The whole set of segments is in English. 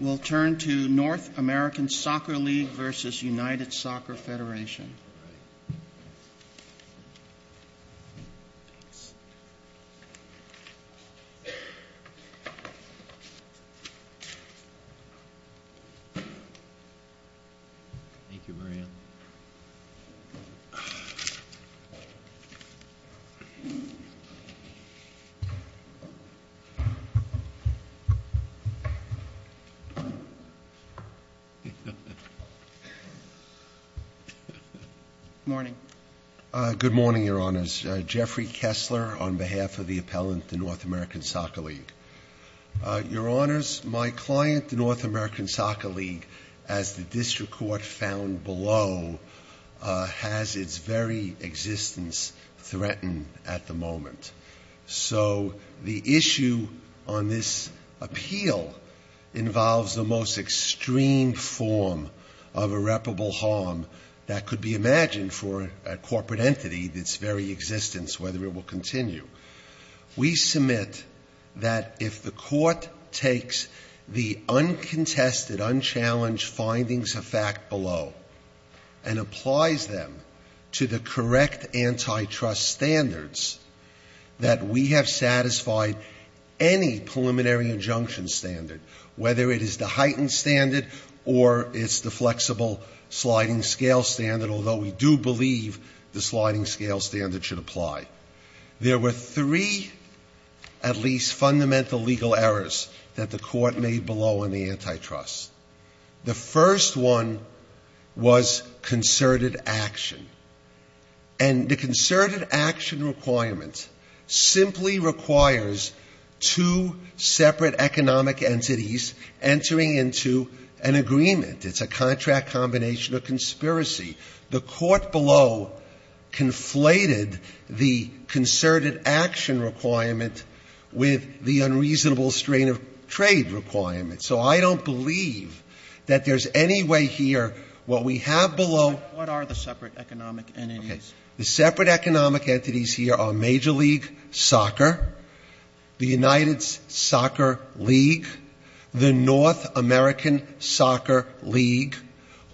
We'll turn to North American Soccer League versus United Soccer Federation. Good morning. Good morning, Your Honors. Jeffrey Kessler on behalf of the appellant to North American Soccer League. Your Honors, my client, the North American Soccer League, as the district court found below, has its very existence threatened at the moment. So the issue on this appeal involves the most extreme form of irreparable harm that could be imagined for a corporate entity, its very existence, whether it will continue. We submit that if the court takes the uncontested, unchallenged findings of fact below and applies them to the correct antitrust standards, that we have satisfied any preliminary injunction standard, whether it is the heightened standard or it's the flexible sliding scale standard, although we do believe the sliding scale standard should apply. There were three at least fundamental legal errors that the court made below on the antitrust. The first one was concerted action. And the concerted action requirement simply requires two separate economic entities entering into an agreement. It's a contract combination of conspiracy. The court below conflated the concerted action requirement with the unreasonable strain of trade requirement. So I don't believe that there's any way here what we have below. Roberts. What are the separate economic entities? The separate economic entities here are Major League Soccer, the United Soccer League, the North American Soccer League,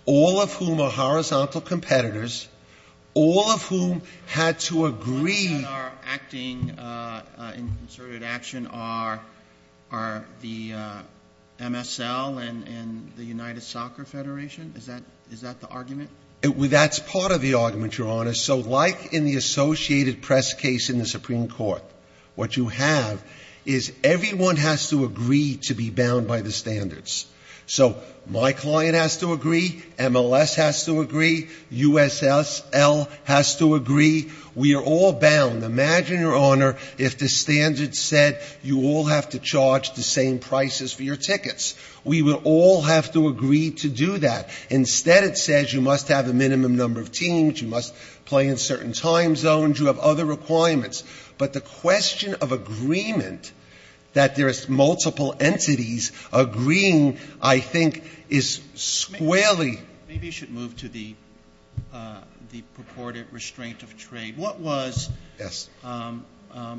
all of whom are horizontal competitors, all of whom had to agree. The ones that are acting in concerted action are the MSL and the United Soccer Federation. Is that the argument? That's part of the argument, Your Honor. So like in the associated press case in the Supreme Court, what you have is everyone has to agree to be bound by the standards. So my client has to agree. MLS has to agree. USSL has to agree. We are all bound. Imagine, Your Honor, if the standards said you all have to charge the same prices for your tickets. We would all have to agree to do that. Instead, it says you must have a minimum number of teams, you must play in certain time zones, you have other requirements. But the question of agreement, that there is multiple entities agreeing, I think, is squarely. Sotomayor, maybe you should move to the purported restraint of trade. What was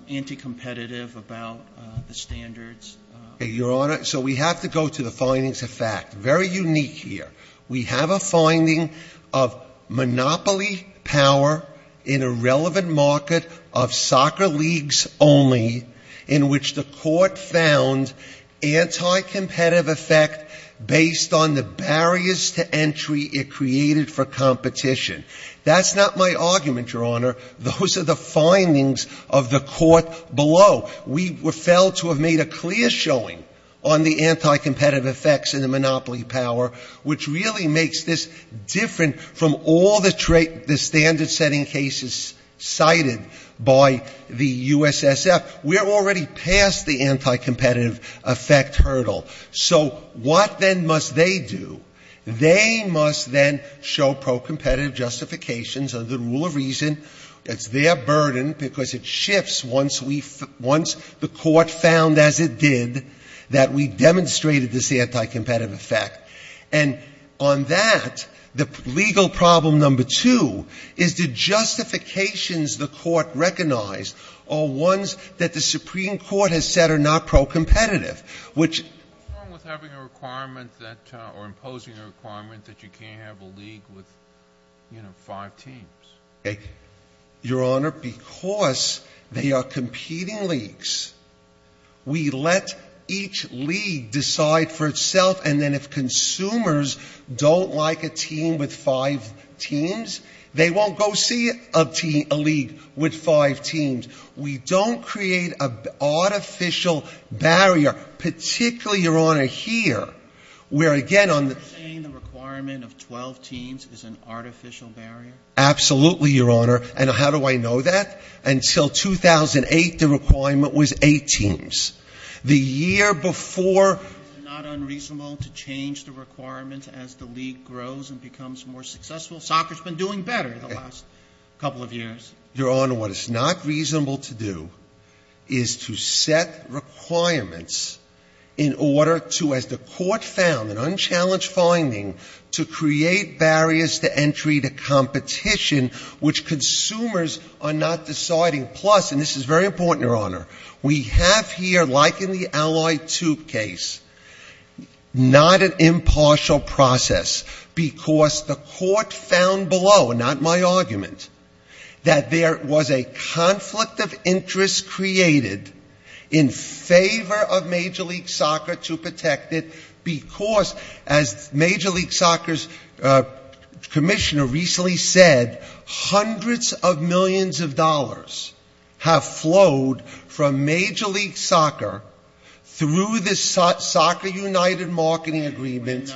anti-competitive about the standards? Your Honor, so we have to go to the findings of fact. Very unique here. We have a finding of monopoly power in a relevant market of soccer leagues only, in which the court found anti-competitive effect based on the barriers to entry it created for competition. That's not my argument, Your Honor. Those are the findings of the court below. We were failed to have made a clear showing on the anti-competitive effects and the monopoly power, which really makes this different from all the standard-setting cases cited by the USSL. We're already past the anti-competitive effect hurdle. So what then must they do? They must then show pro-competitive justifications under the rule of reason. It's their burden, because it shifts once we — once the court found, as it did, that we demonstrated this anti-competitive effect. And on that, the legal problem number two is the justifications the court recognized are ones that the Supreme Court has said are not pro-competitive, which — What's wrong with having a requirement that — or imposing a requirement that you can't have a league with, you know, five teams? Your Honor, because they are competing leagues, we let each league decide for itself. And then if consumers don't like a team with five teams, they won't go see a league with five teams. We don't create an artificial barrier, particularly, Your Honor, here, where again on the — So you're saying the requirement of 12 teams is an artificial barrier? Absolutely, Your Honor. And how do I know that? Until 2008, the requirement was eight teams. The year before — Is it not unreasonable to change the requirements as the league grows and becomes more successful? Soccer's been doing better the last couple of years. Your Honor, what it's not reasonable to do is to set requirements in order to, as the court found, an unchallenged finding, to create barriers to entry to competition which consumers are not deciding. Plus, and this is very important, Your Honor, we have here, like in the Allied Tube case, not an impartial process because the court found below, not my argument, that there was a conflict of interest created in favor of Major League Soccer to protect it because, as Major League Soccer's commissioner recently said, hundreds of millions of dollars have flowed from a Soccer United marketing agreement.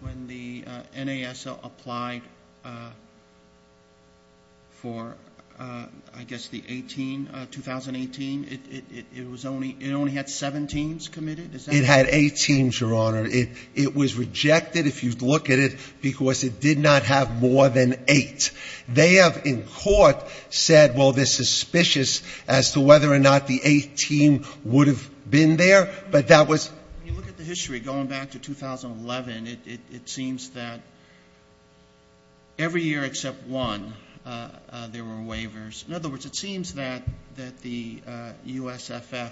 When the NASL applied for, I guess, the 18 — 2018, it only had seven teams committed? It had eight teams, Your Honor. It was rejected, if you look at it, because it did not have more than eight. They have, in court, said, well, they're suspicious as to whether or not the eighth team would have been there, but that was — When you look at the history, going back to 2011, it seems that every year except one, there were waivers. In other words, it seems that the USFF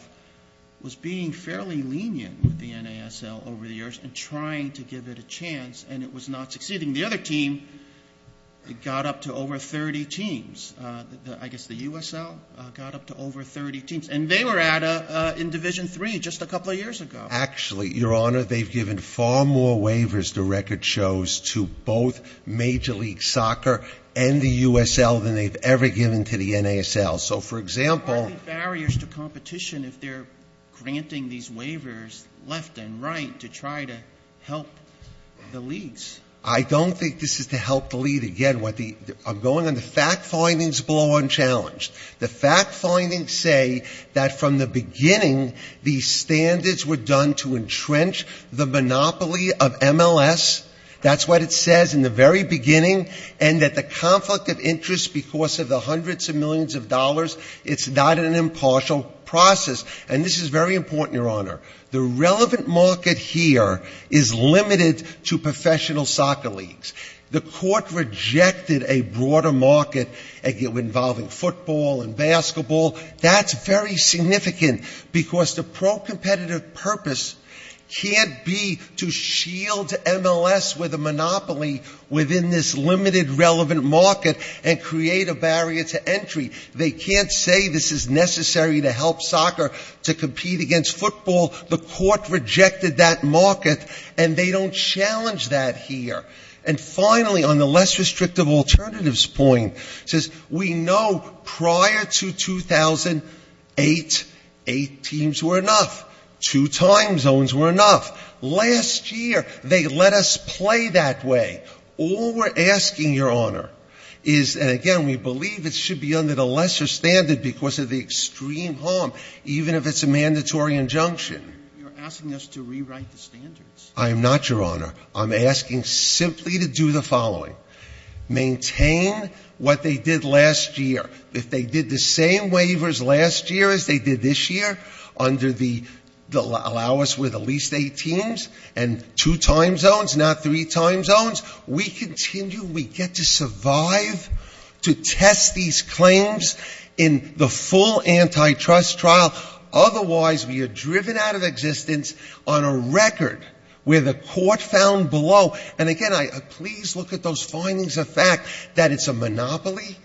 was being fairly lenient with the NASL over the years and trying to give it a chance, and it was not succeeding. The other team got up to over 30 teams. I guess the USL got up to over 30 teams. And they were at a — in Division III just a couple of years ago. Actually, Your Honor, they've given far more waivers, the record shows, to both Major League Soccer and the USL than they've ever given to the NASL. So, for example — What are the barriers to competition if they're granting these waivers left and right to try to help the leagues? I don't think this is to help the league. Again, I'm going on the fact findings below unchallenged. The fact findings say that from the beginning, these standards were done to entrench the monopoly of MLS. That's what it says in the very beginning, and that the conflict of interest because of the hundreds of millions of dollars, it's not an impartial process. And this is very important, Your Honor. The court rejected a broader market involving football and basketball. That's very significant, because the pro-competitive purpose can't be to shield MLS with a monopoly within this limited relevant market and create a barrier to entry. They can't say this is necessary to help soccer to compete against football. The court rejected that market, and they don't challenge that here. And finally, on the less restrictive alternatives point, it says we know prior to 2008, eight teams were enough. Two time zones were enough. Last year, they let us play that way. All we're asking, Your Honor, is — and again, we believe it should be under the lesser standard because of the extreme harm, even if it's a mandatory injunction. I am not, Your Honor. I'm asking simply to do the following. Maintain what they did last year. If they did the same waivers last year as they did this year, under the — allow us with at least eight teams and two time zones, not three time zones, we continue, we get to survive, to test these claims in the full antitrust trial, otherwise we are driven out of existence on a record where the court found below — and again, please look at those findings of fact — that it's a monopoly,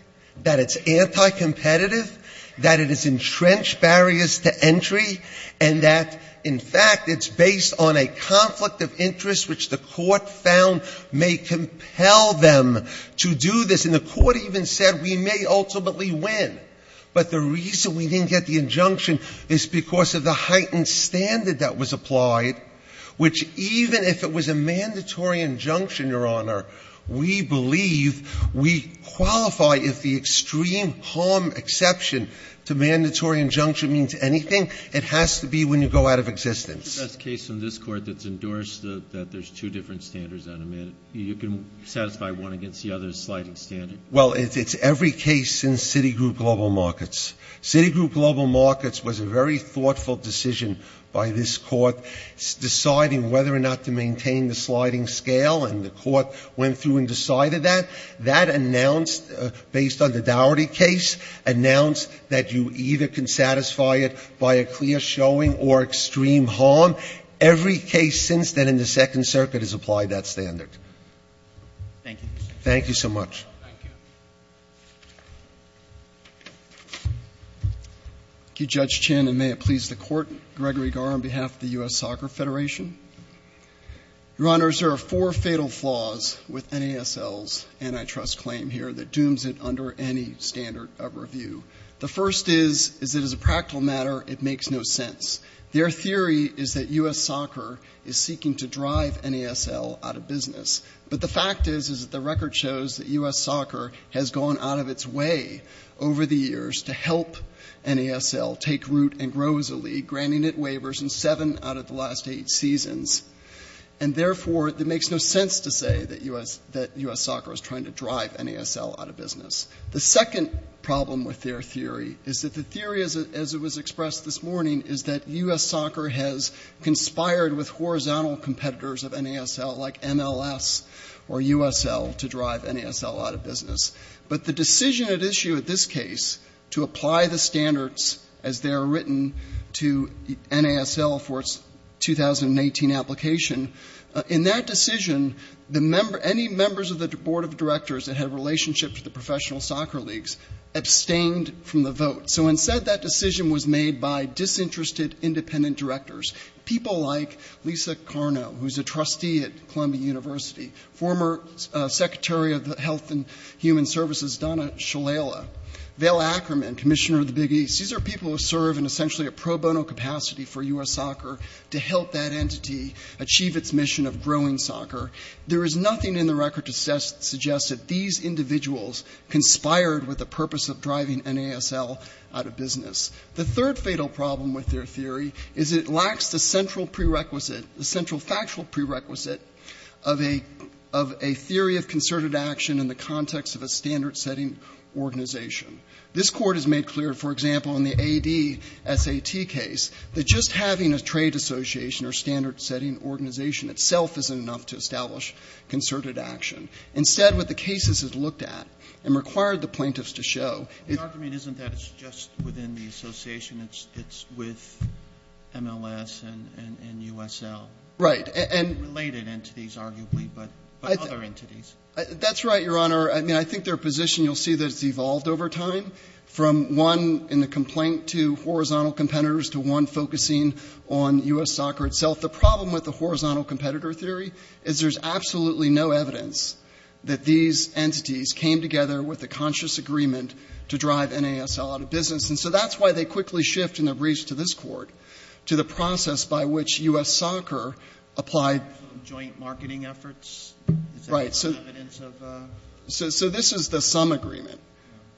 that it's anti-competitive, that it has entrenched barriers to entry, and that, in fact, it's based on a conflict of interest which the court found may compel them to do this. And the court even said we may ultimately win. But the reason we didn't get the injunction is because of the heightened standard that was applied, which even if it was a mandatory injunction, Your Honor, we believe — we qualify if the extreme harm exception to mandatory injunction means anything, it has to be when you go out of existence. The best case in this Court that's endorsed that there's two different standards on a mandate, you can satisfy one against the other sliding standard? Well, it's every case since Citigroup Global Markets. Citigroup Global Markets was a very thoughtful decision by this Court deciding whether or not to maintain the sliding scale, and the Court went through and decided that. That announced, based on the Dougherty case, announced that you either can satisfy it by a clear showing or extreme harm. Every case since then in the Second Circuit has applied that standard. Thank you. Thank you so much. Thank you. Thank you, Judge Chin. And may it please the Court, Gregory Garre on behalf of the U.S. Soccer Federation. Your Honors, there are four fatal flaws with NASL's antitrust claim here that dooms it under any standard of review. The first is that, as a practical matter, it makes no sense. Their theory is that U.S. soccer is seeking to drive NASL out of business. But the fact is that the record shows that U.S. soccer has gone out of its way over the years to help NASL take root and grow as a league, granting it waivers in seven out of the last eight seasons. And therefore, it makes no sense to say that U.S. soccer is trying to drive NASL out of business. The second problem with their theory is that the theory, as it was expressed this morning, is that U.S. soccer has conspired with horizontal competitors of NASL, like MLS or USL, to drive NASL out of business. But the decision at issue at this case to apply the standards as they are written to NASL for its 2018 application, in that case, was made by disinterested independent directors. People like Lisa Carno, who is a trustee at Columbia University, former Secretary of Health and Human Services Donna Shalala, Val Ackerman, Commissioner of the Big East. These are people who serve in essentially a pro bono capacity for U.S. soccer to help that entity achieve its mission of driving NASL out of business. The third fatal problem with their theory is it lacks the central prerequisite, the central factual prerequisite, of a theory of concerted action in the context of a standard-setting organization. This Court has made clear, for example, in the A.D. S.A.T. case, that just having a trade association or standard-setting organization itself isn't enough to establish concerted action. Instead, what the case has looked at and required the plaintiffs to show — Roberts. The argument isn't that it's just within the association. It's with MLS and USL. Garrett. Right. And — Roberts. Related entities, arguably, but other entities. Garrett. That's right, Your Honor. I mean, I think their position, you'll see that it's evolved over time, from one in the complaint to horizontal competitors to one focusing on U.S. soccer itself. The problem with the horizontal competitor theory is there's absolutely no evidence that these entities came together with a conscious agreement to drive NASL out of business. And so that's why they quickly shift, in their briefs to this Court, to the process by which U.S. soccer applied — Roberts. Joint marketing efforts? Garrett. Right. Roberts. Is that evidence of — Garrett. So this is the sum agreement.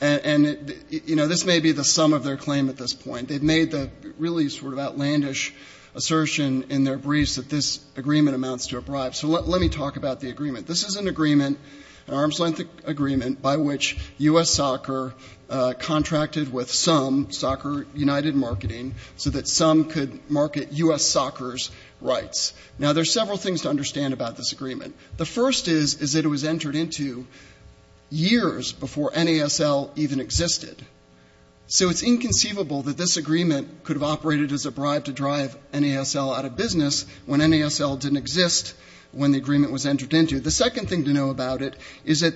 And, you know, this may be the sum of their claim at this point. They've made the really sort of outlandish assertion in their briefs that this agreement amounts to a bribe. So let me talk about the agreement. This is an agreement, an arm's-length agreement, by which U.S. soccer contracted with some, Soccer United Marketing, so that some could market U.S. soccer's rights. Now, there's several things to understand about this agreement. The first is, is that this agreement was entered into years before NASL even existed. So it's inconceivable that this agreement could have operated as a bribe to drive NASL out of business when NASL didn't exist when the agreement was entered into. The second thing to know about it is that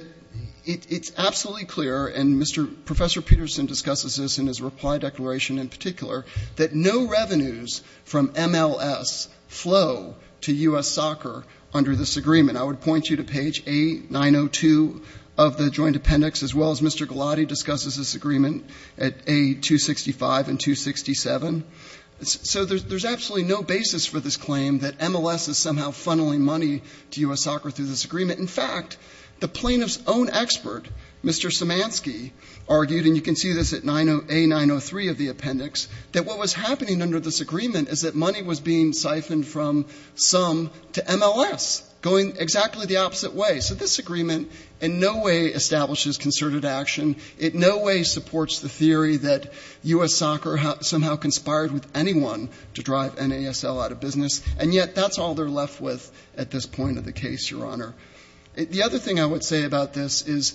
it's absolutely clear — and Professor Peterson discusses this in his reply declaration in particular — that no revenues from MLS flow to U.S. soccer under this agreement. I would point you to page A902 of the joint appendix, as well as Mr. Gulati discusses this agreement at A265 and 267. So there's absolutely no basis for this claim that MLS is somehow funneling money to U.S. soccer through this agreement. In fact, the plaintiff's own expert, Mr. Simansky, argued — and you can see this at A903 of the appendix — that what was happening under this agreement is that money was being funneled in the opposite way. So this agreement in no way establishes concerted action. It in no way supports the theory that U.S. soccer somehow conspired with anyone to drive NASL out of business. And yet that's all they're left with at this point of the case, Your Honor. The other thing I would say about this is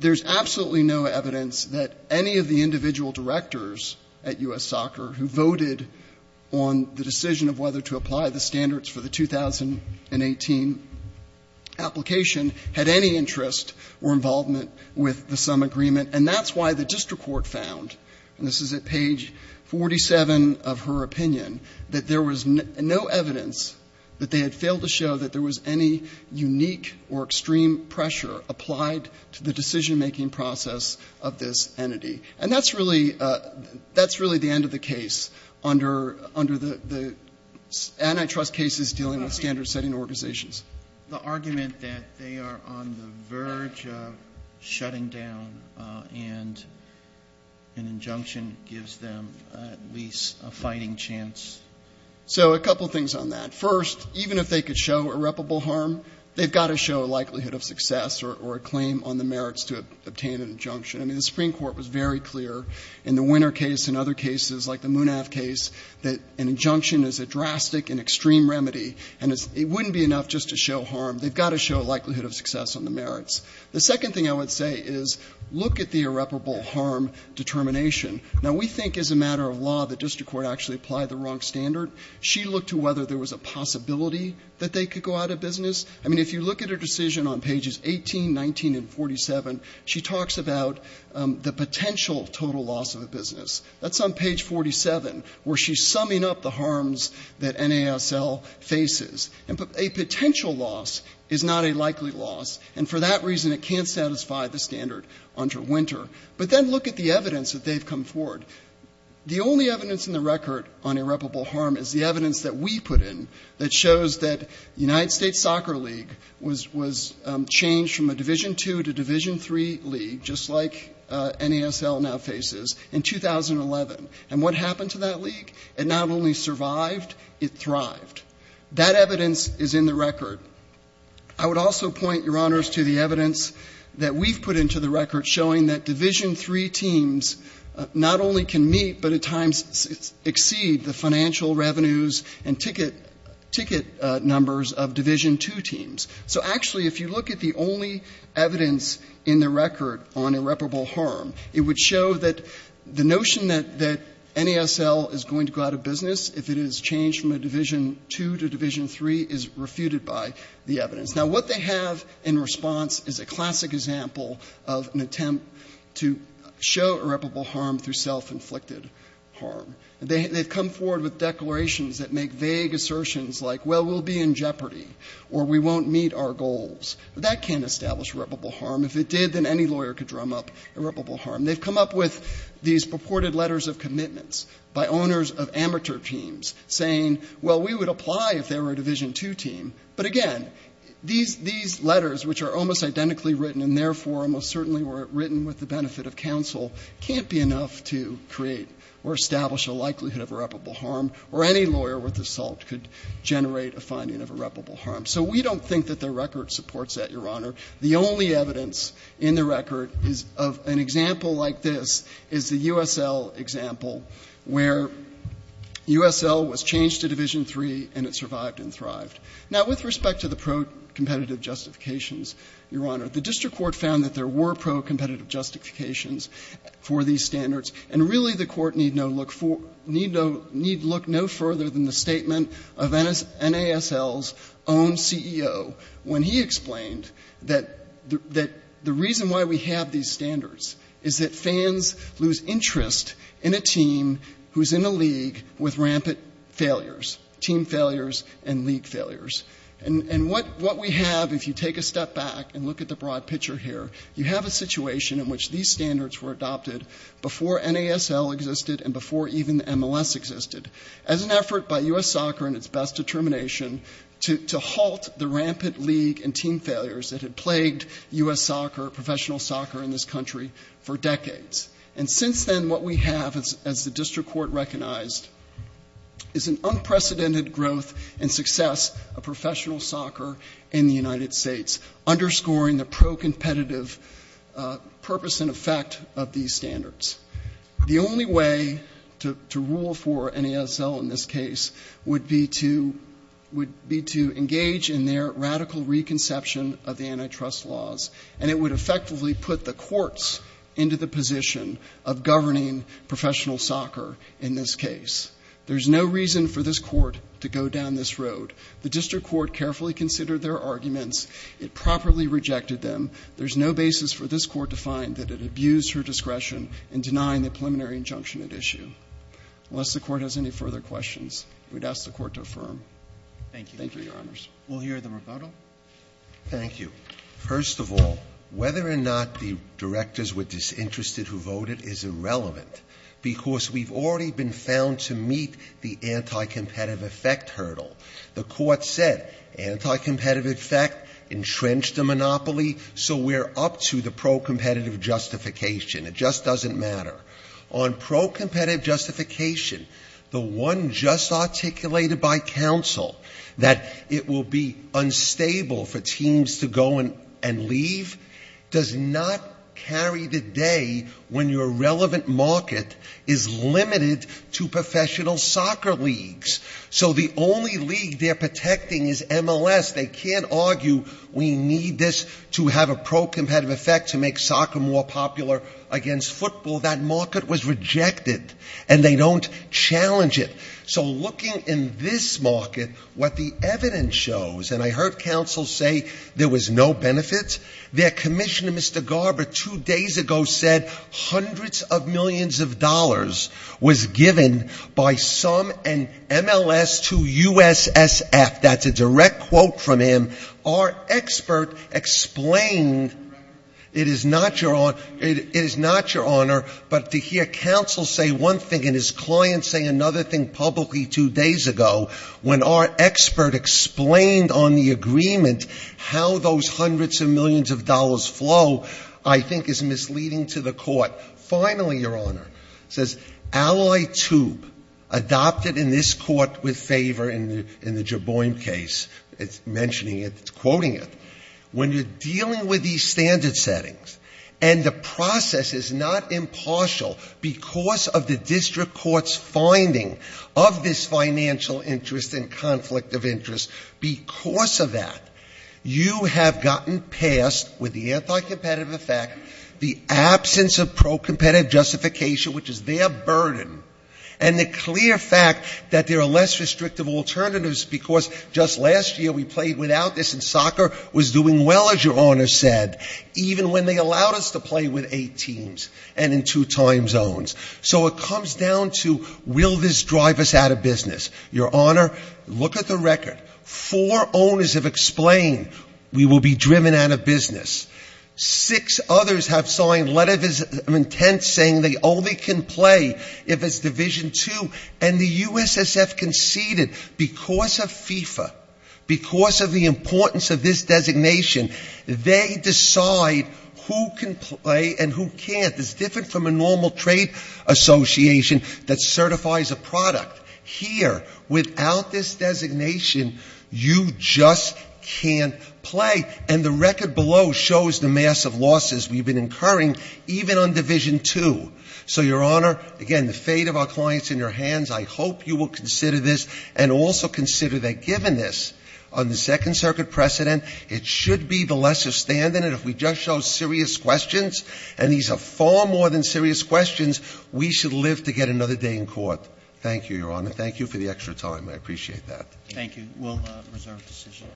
there's absolutely no evidence that any of the individual directors at U.S. soccer who voted on the decision of whether to apply the standards for the 2018 application had any interest or involvement with the sum agreement. And that's why the district court found, and this is at page 47 of her opinion, that there was no evidence that they had failed to show that there was any unique or extreme pressure applied to the decision-making process of this entity. And that's really — that's really the end of the case under — under the — the antitrust cases dealing with standard-setting organizations. The argument that they are on the verge of shutting down and an injunction gives them at least a fighting chance. So a couple things on that. First, even if they could show irreparable harm, they've got to show a likelihood of success or a claim on the merits to obtain an injunction. I mean, the Supreme Court was very clear in the Winner case and other cases like the extreme remedy, and it wouldn't be enough just to show harm. They've got to show a likelihood of success on the merits. The second thing I would say is look at the irreparable harm determination. Now, we think as a matter of law the district court actually applied the wrong standard. She looked to whether there was a possibility that they could go out of business. I mean, if you look at her decision on pages 18, 19, and And a potential loss is not a likely loss. And for that reason, it can't satisfy the standard under Winter. But then look at the evidence that they've come forward. The only evidence in the record on irreparable harm is the evidence that we put in that shows that the United States Soccer League was — was changed from a Division II to Division III league, just like NASL now faces, in 2011. And what happened to that league? It not only survived, it thrived. That evidence is in the record. I would also point, Your Honors, to the evidence that we've put into the record showing that Division III teams not only can meet but at times exceed the financial revenues and ticket — ticket numbers of Division II teams. So actually, if you look at the only evidence in the record on irreparable harm, it would show that the notion that NASL is going to go out of business if it is changed from a Division II to Division III is refuted by the evidence. Now, what they have in response is a classic example of an attempt to show irreparable harm through self-inflicted harm. They've come forward with declarations that make vague assertions like, well, we'll be in jeopardy, or we won't meet our goals. That can't establish irreparable harm. If it did, then any lawyer could drum up irreparable harm. They've come up with these purported letters of commitments by owners of amateur teams saying, well, we would apply if they were a Division II team. But again, these — these letters, which are almost identically written and therefore almost certainly were written with the benefit of counsel, can't be enough to create or establish a likelihood of irreparable harm, or any lawyer with assault could generate a finding of irreparable harm. So we don't think that the record supports that, Your Honor. The only evidence in the record is of an example like this, is the USL example, where USL was changed to Division III and it survived and thrived. Now, with respect to the pro-competitive justifications, Your Honor, the district court found that there were pro-competitive justifications for these standards, and really the court need no look for — need look no further than the statement of NASL's own CEO when he explained that the reason why we have these standards is that fans lose interest in a team who's in a league with rampant failures, team failures and league failures. And what we have, if you take a step back and look at the broad picture here, you have a situation in which these standards were adopted before NASL existed and before even MLS existed, as an effort by US Soccer in its best determination to halt the rampant league and team failures that had plagued US Soccer, professional soccer in this country for decades. And since then, what we have, as the district court recognized, is an unprecedented growth and success of professional soccer in the United States, underscoring the pro-competitive purpose and effect of these standards. The only way to rule for NASL in this case would be to engage in their radical reconception of the antitrust laws, and it would effectively put the courts into the position of governing professional soccer in this case. There's no reason for this court to go down this road. The district court carefully considered their arguments. It properly rejected them. There's no basis for this court to find that it abused her discretion in denying the preliminary injunction at issue. Unless the Court has any further questions, we'd ask the Court to affirm. Thank you, Your Honors. Roberts. We'll hear the rebuttal. Thank you. First of all, whether or not the directors were disinterested who voted is irrelevant, because we've already been found to meet the anticompetitive effect hurdle. The Court said anticompetitive effect entrenched the monopoly, so we're up to the pro-competitive justification. It just doesn't matter. On pro-competitive justification, the one just articulated by counsel, that it will be unstable for teams to go and leave, does not carry the day when your relevant market is limited to professional soccer leagues. So the only league they're protecting is MLS. They can't argue we need this to have a pro-competitive effect to make soccer more popular against football. That market was rejected, and they don't challenge it. So looking in this market, what the evidence shows, and I heard counsel say there was no benefit. Their commissioner, Mr. Garber, two days ago said hundreds of millions was given by some MLS to USSF. That's a direct quote from him. Our expert explained, it is not your honor, but to hear counsel say one thing and his client say another thing publicly two days ago, when our expert explained on the agreement how those hundreds of millions of dollars flow, I think is misleading to the Court. But finally, your honor, says ally tube adopted in this court with favor in the Jaboin case, it's mentioning it, it's quoting it. When you're dealing with these standard settings, and the process is not impartial because of the district court's finding of this financial interest and conflict of interest, because of that, you have gotten past, with the anti-competitive effect, the absence of pro-competitive justification, which is their burden, and the clear fact that there are less restrictive alternatives because just last year we played without this and soccer was doing well, as your honor said, even when they allowed us to play with eight teams and in two time zones. So it comes down to will this drive us out of business? Your honor, look at the record. Four owners have explained we will be driven out of business. Six others have signed letters of intent saying they only can play if it's Division 2. And the U.S.S.F. conceded, because of FIFA, because of the importance of this designation, they decide who can play and who can't. It's different from a normal trade association that certifies a product. Here, without this designation, you just can't play. And the record below shows the massive losses we've been incurring even on Division 2. So, your honor, again, the fate of our clients in your hands. I hope you will consider this and also consider that given this, on the Second Circuit precedent, it should be the lesser standard. And if we just show serious questions, and these are far more than serious questions, we should live to get another day in court. Thank you, your honor. Thank you for the extra time. I appreciate that. Roberts. Thank you. We'll reserve decision.